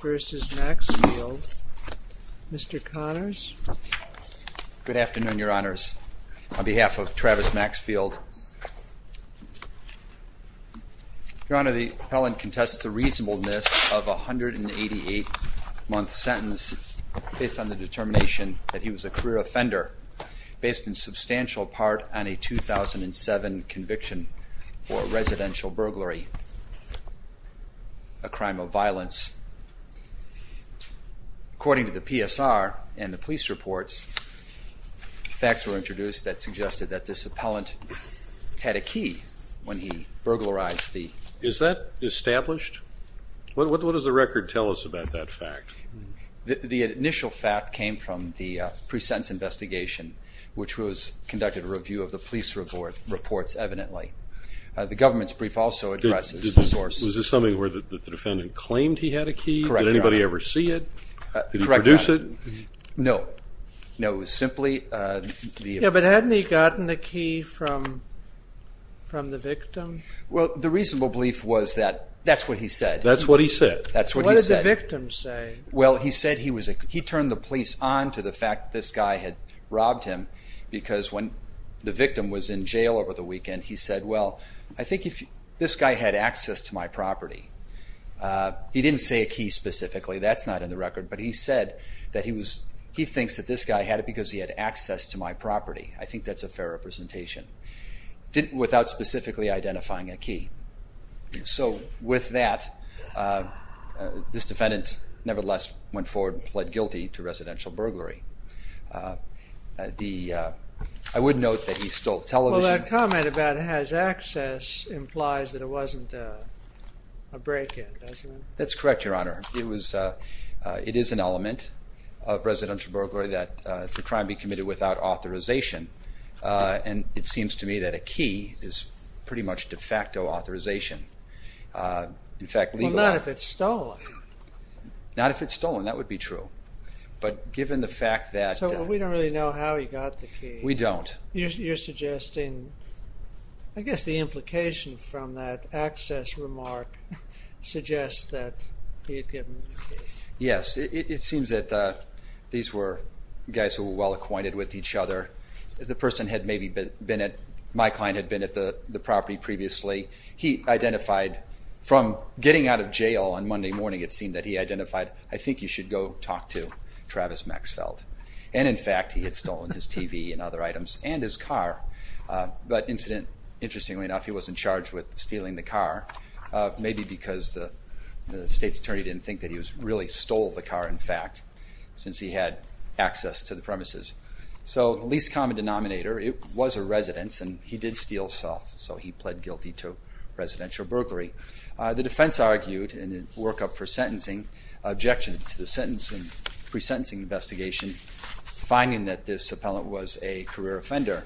vs. Maxfield. Mr. Connors? Good afternoon, your honors. On behalf of Travis Maxfield, your honor, the appellant contests the reasonableness of a 188 month sentence based on the determination that he was a career offender based in substantial part on a 2007 conviction for residential burglary, a crime of violence. According to the PSR and the police reports, facts were introduced that suggested that this appellant had a key when he burglarized the... Is that established? What does the record tell us about that fact? The initial fact came from the pre-sentence investigation which was conducted a police report reports evidently. The government's brief also addresses the source. Was this something where the defendant claimed he had a key? Correct, your honor. Did anybody ever see it? Correct, your honor. Did he produce it? No. No, it was simply... Yeah, but hadn't he gotten a key from the victim? Well, the reasonable belief was that that's what he said. That's what he said? That's what he said. What did the victim say? Well, he said he turned the police on to the fact this guy had robbed him because when the victim was in jail over the weekend, he said, well, I think if this guy had access to my property. He didn't say a key specifically, that's not in the record, but he said that he was, he thinks that this guy had it because he had access to my property. I think that's a fair representation. Without specifically identifying a key. So with that, this defendant nevertheless went forward and pled guilty to residential burglary. The, I would note that he stole television. Well, that comment about has access implies that it wasn't a break-in, doesn't it? That's correct, your honor. It was, it is an element of residential burglary that the crime be committed without authorization and it seems to me that a key is pretty much de facto authorization. In fact, not if it's stolen. Not if it's stolen, that would be true, but given the fact that. So we don't really know how he got the key. We don't. You're suggesting, I guess the implication from that access remark suggests that he had given the key. Yes, it seems that these were guys who were well acquainted with each other. The person had maybe been at, my client had been at the property previously. He identified from getting out of jail on Monday morning, it seemed that he identified, I think you should go talk to Travis Maxfeld. And in fact, he had stolen his TV and other items and his car. But incident, interestingly enough, he was in charge with stealing the car. Maybe because the state's attorney didn't think that he was really stole the car in fact, since he had access to the premises. So least common denominator, it did steal stuff. So he pled guilty to residential burglary. The defense argued in a workup for sentencing, objected to the sentence and pre-sentencing investigation, finding that this appellant was a career offender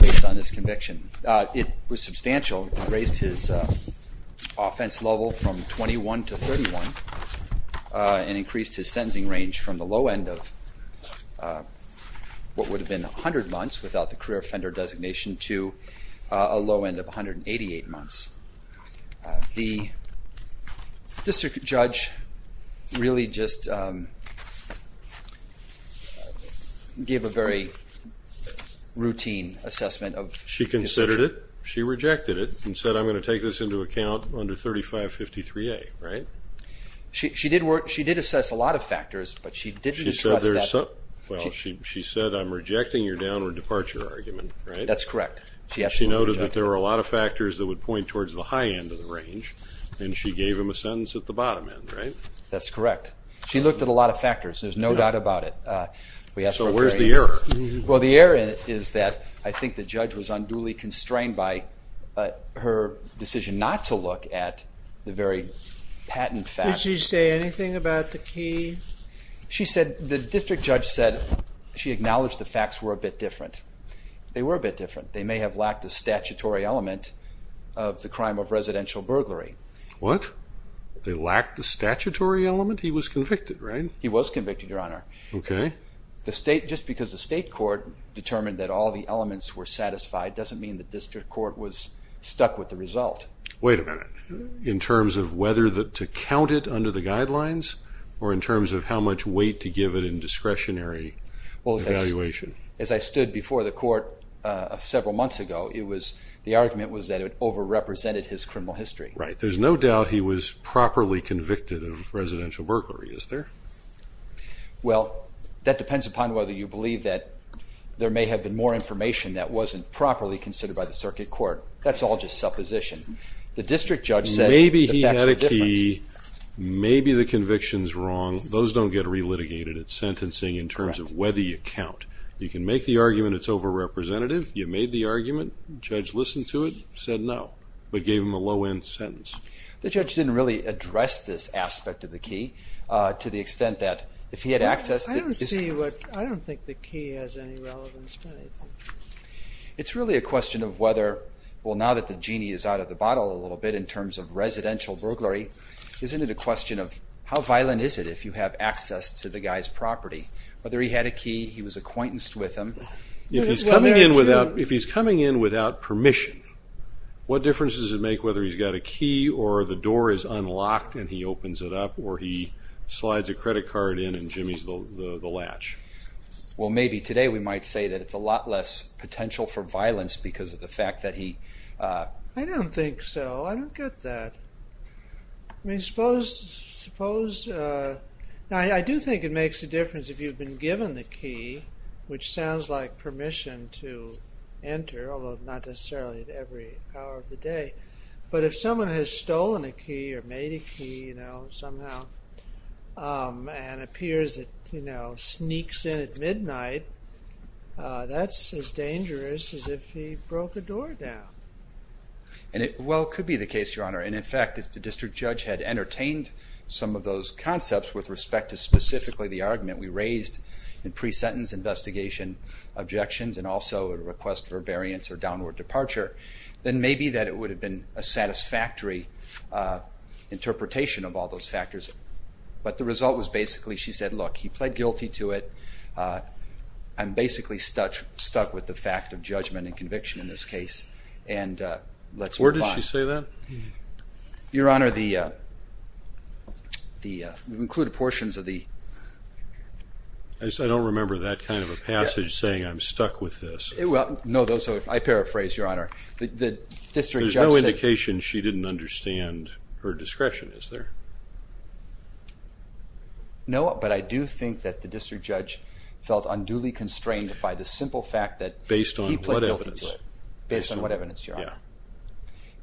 based on this conviction. It was substantial, raised his offense level from 21 to 31 and increased his sentencing range from the low end of what would have been a months without the career offender designation to a low end of 188 months. The district judge really just gave a very routine assessment of... She considered it, she rejected it, and said I'm going to take this into account under 3553A, right? She did work, she did assess a lot of factors, but she didn't trust that. Well, she said I'm rejecting your downward departure argument, right? That's correct. She noted that there were a lot of factors that would point towards the high end of the range, and she gave him a sentence at the bottom end, right? That's correct. She looked at a lot of factors, there's no doubt about it. So where's the error? Well, the error is that I think the judge was unduly constrained by her decision not to look at the very patent fact. Did she say anything about the key? She said, the district judge said she acknowledged the facts were a bit different. They were a bit different. They may have lacked a statutory element of the crime of residential burglary. What? They lacked the statutory element? He was convicted, right? He was convicted, Your Honor. Okay. The state, just because the state court determined that all the elements were satisfied doesn't mean the district court was stuck with the result. Wait a minute. So it was either to count it under the guidelines, or in terms of how much weight to give it in discretionary evaluation? Well, as I stood before the court several months ago, it was, the argument was that it over-represented his criminal history. Right. There's no doubt he was properly convicted of residential burglary, is there? Well, that depends upon whether you believe that there may have been more information that wasn't properly considered by the circuit court. That's all just supposition. The district judge said the facts were different. Maybe he had a key, maybe the conviction's wrong. Those don't get re-litigated. It's sentencing in terms of whether you count. You can make the argument it's over-representative, you made the argument, judge listened to it, said no, but gave him a low-end sentence. The judge didn't really address this aspect of the key to the extent that if he had accessed it. I don't see what, I don't think the key has any relevance. It's really a question of whether, well now that the genie is out of the bottle a little bit in terms of residential burglary, isn't it a question of how violent is it if you have access to the guy's property? Whether he had a key, he was acquaintance with him. If he's coming in without, if he's coming in without permission, what difference does it make whether he's got a key or the door is unlocked and he opens it up or he slides a credit card in and jimmies the latch? Well maybe today we might say that it's a lot less potential for violence because of the fact that he... I don't think so, I don't get that. I mean suppose, now I do think it makes a difference if you've been given the key, which sounds like permission to enter, although not necessarily at every hour of the day, but if someone has stolen a key or made a key, you know, somehow and appears it, you know, sneaks in at that's as dangerous as if he broke a door down. And it well could be the case Your Honor, and in fact if the district judge had entertained some of those concepts with respect to specifically the argument we raised in pre-sentence investigation objections and also a request for variance or downward departure, then maybe that it would have been a satisfactory interpretation of all those factors, but the result was basically she said look, he pled guilty to it. I'm basically stuck with the fact of judgment and conviction in this case and let's move on. Where did she say that? Your Honor, the included portions of the... I don't remember that kind of a passage saying I'm stuck with this. Well no, those are, I paraphrase Your Honor, the district judge said... There's no indication she didn't understand her discretion, is there? No, but I do think that the district judge felt unduly constrained by the simple fact that... Based on what evidence? Based on what evidence, Your Honor?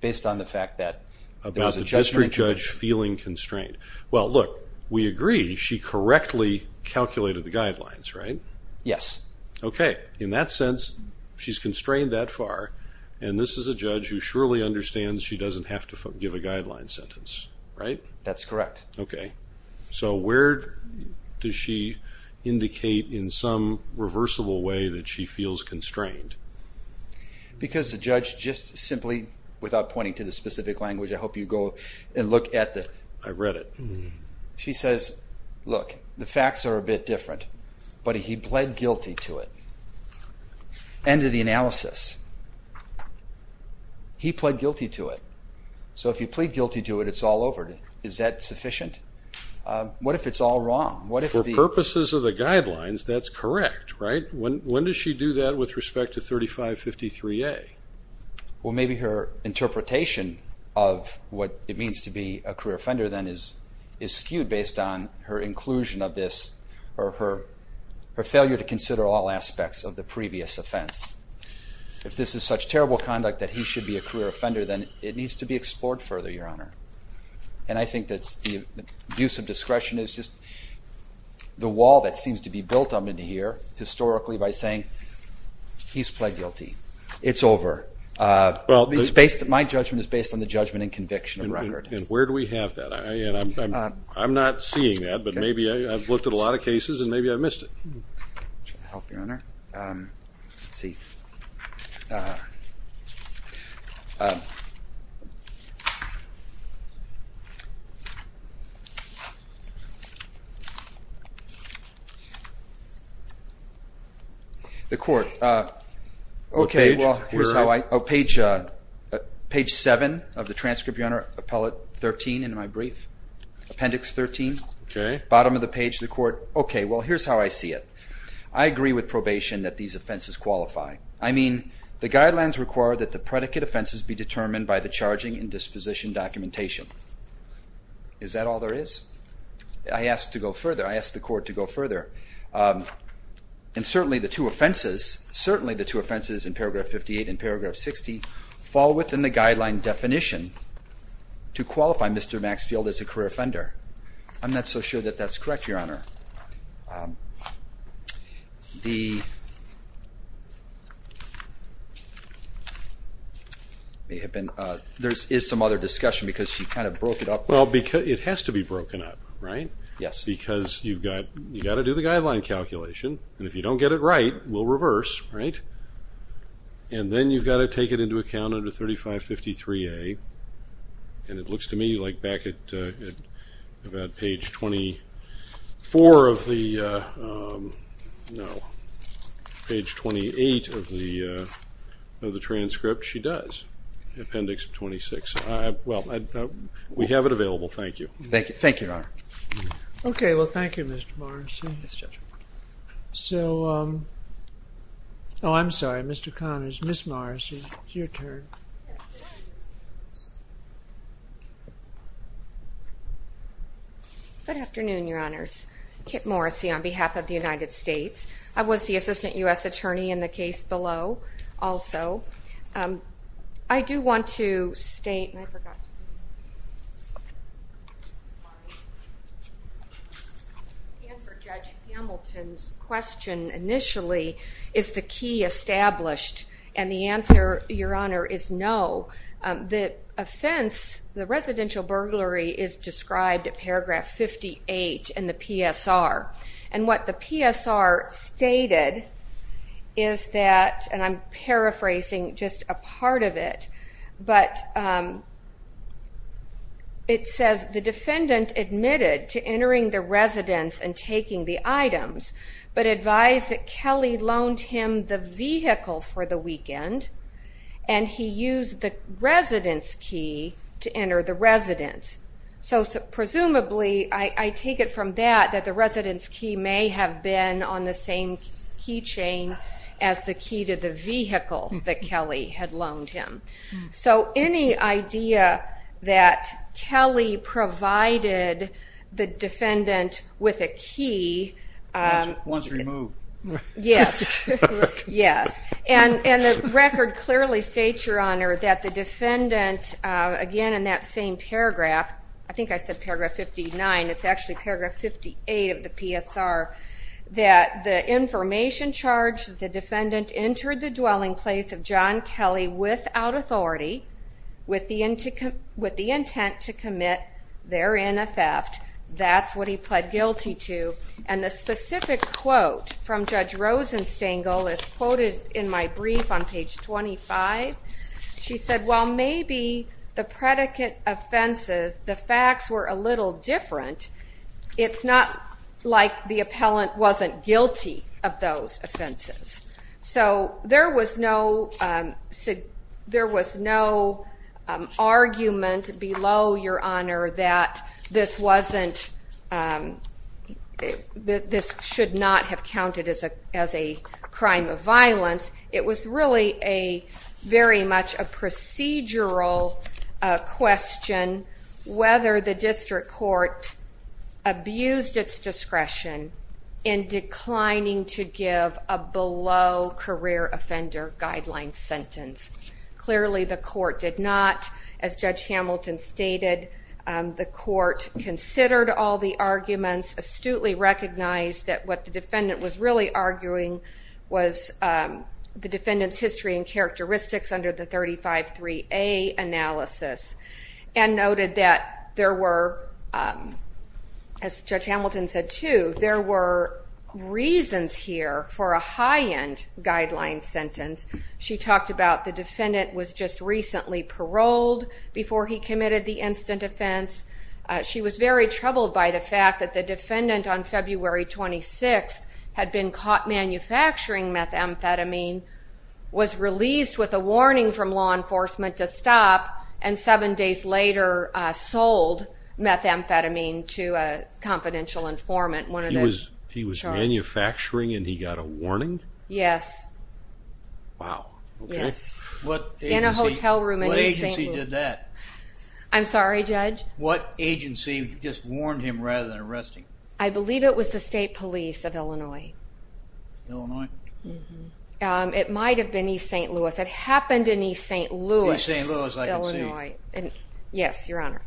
Based on the fact that... About the district judge feeling constrained. Well look, we agree she correctly calculated the guidelines, right? Yes. Okay, in that sense she's constrained that far and this is a guideline sentence, right? That's correct. Okay, so where does she indicate in some reversible way that she feels constrained? Because the judge just simply, without pointing to the specific language, I hope you go and look at the... I read it. She says, look, the facts are a bit different, but he pled guilty to it. End of the analysis. He pled guilty to it. So if you plead guilty to it, it's all over. Is that sufficient? What if it's all wrong? For purposes of the guidelines, that's correct, right? When does she do that with respect to 3553A? Well maybe her interpretation of what it means to be a career offender then is skewed based on her inclusion of this or her failure to consider all aspects of the previous offense. If this is such terrible conduct that he should be a career offender, then it needs to be explored further, Your Honor, and I think that's the use of discretion is just the wall that seems to be built up into here historically by saying he's pled guilty. It's over. Well, it's based, my judgment is based on the judgment and conviction of record. And where do we have that? I'm not seeing that, but maybe I've looked at a lot of cases and maybe I missed it. The court, okay, well here's how I, page seven of the transcript, Your Honor, appellate 13 in my brief, appendix 13. Okay. Bottom of the page, that's how I see it. I agree with probation that these offenses qualify. I mean, the guidelines require that the predicate offenses be determined by the charging and disposition documentation. Is that all there is? I asked to go further. I asked the court to go further. And certainly the two offenses, certainly the two offenses in paragraph 58 and paragraph 60 fall within the guideline definition to qualify Mr. Maxfield as a career offender. I'm not so sure that that's correct, Your Honor. There is some other discussion because she kind of broke it up. Well, it has to be broken up, right? Yes. Because you've got to do the guideline calculation, and if you don't get it right, we'll reverse, right? And then you've got to take it into account under 3553A, and it four of the, no, page 28 of the of the transcript, she does. Appendix 26. Well, we have it available. Thank you. Thank you. Thank you, Your Honor. Okay, well thank you, Mr. Morrissey. So, oh I'm sorry, Mr. Connors, Ms. Morrissey, it's your turn. Good afternoon, Your Honors. Kit Morrissey on behalf of the United States. I was the Assistant U.S. Attorney in the case below, also. I do want to state, and I forgot to answer Judge Hamilton's question initially, is the key established? And the answer, Your Honor, is no. The offense, the residential burglary is described at paragraph 58 in the PSR. And what the PSR stated is that, and I'm paraphrasing just a part of it, but it says the defendant admitted to entering the residence and taking the items, but advised that Kelly loaned him the vehicle for the weekend, and he used the residence key to enter the residence. So presumably, I take it from that, that the residence key may have been on the same keychain as the key to the vehicle that Kelly had loaned him. So any idea that Kelly provided the defendant with a key... Once removed. Yes, yes. And the record clearly states, Your Honor, that the defendant, again in that same paragraph, I think I said paragraph 59, it's actually paragraph 58 of the PSR, that the information charge, the defendant entered the dwelling place of John Kelly without authority, with the intent to commit therein a theft. That's what he pled guilty to. And the specific quote from Judge Rosenstengel is quoted in my brief on page 25. She said, Well, maybe the predicate offenses, the facts were a little different. It's not like the there was no argument below, Your Honor, that this wasn't, that this should not have counted as a crime of violence. It was really a very much a procedural question, whether the district court abused its discretion in declining to give a below-career-offender-guideline sentence. Clearly, the court did not. As Judge Hamilton stated, the court considered all the arguments, astutely recognized that what the defendant was really arguing was the defendant's history and characteristics under the 35-3A analysis, and noted that there were, as Judge Hamilton said too, there were reasons here for a high-end guideline sentence. She talked about the defendant was just recently paroled before he committed the instant offense. She was very troubled by the fact that the defendant on February 26th had been caught manufacturing methamphetamine, was released with a warning from law enforcement to stop, and seven days later sold methamphetamine to a confidential informant. He was manufacturing and he got a warning? Yes. Wow. In a hotel room in East St. Louis. What agency did that? I'm sorry, Judge? What agency just warned him rather than arresting him? I believe it was the State Police of Illinois. Illinois? It might have been East St. Louis. It happened in East St. Louis, Illinois. East St. Louis, I can see. Yes, Your Honor.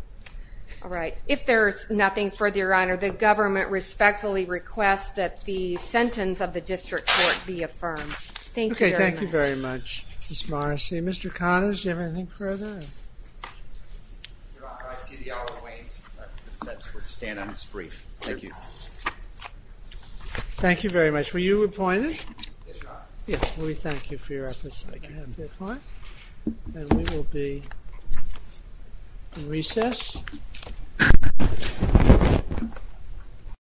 All right. If there is nothing further, Your Honor, the government respectfully requests that the sentence of the District Court be affirmed. Thank you very much. Okay, thank you very much, Ms. Morrissey. Mr. Connors, do you have anything further? Your Honor, I see the hour waits. Let's stand on this brief. Thank you. Thank you very much. Were you appointed? Yes, Your Honor. Yes, we thank you for your efforts. Thank you. And we will be in recess.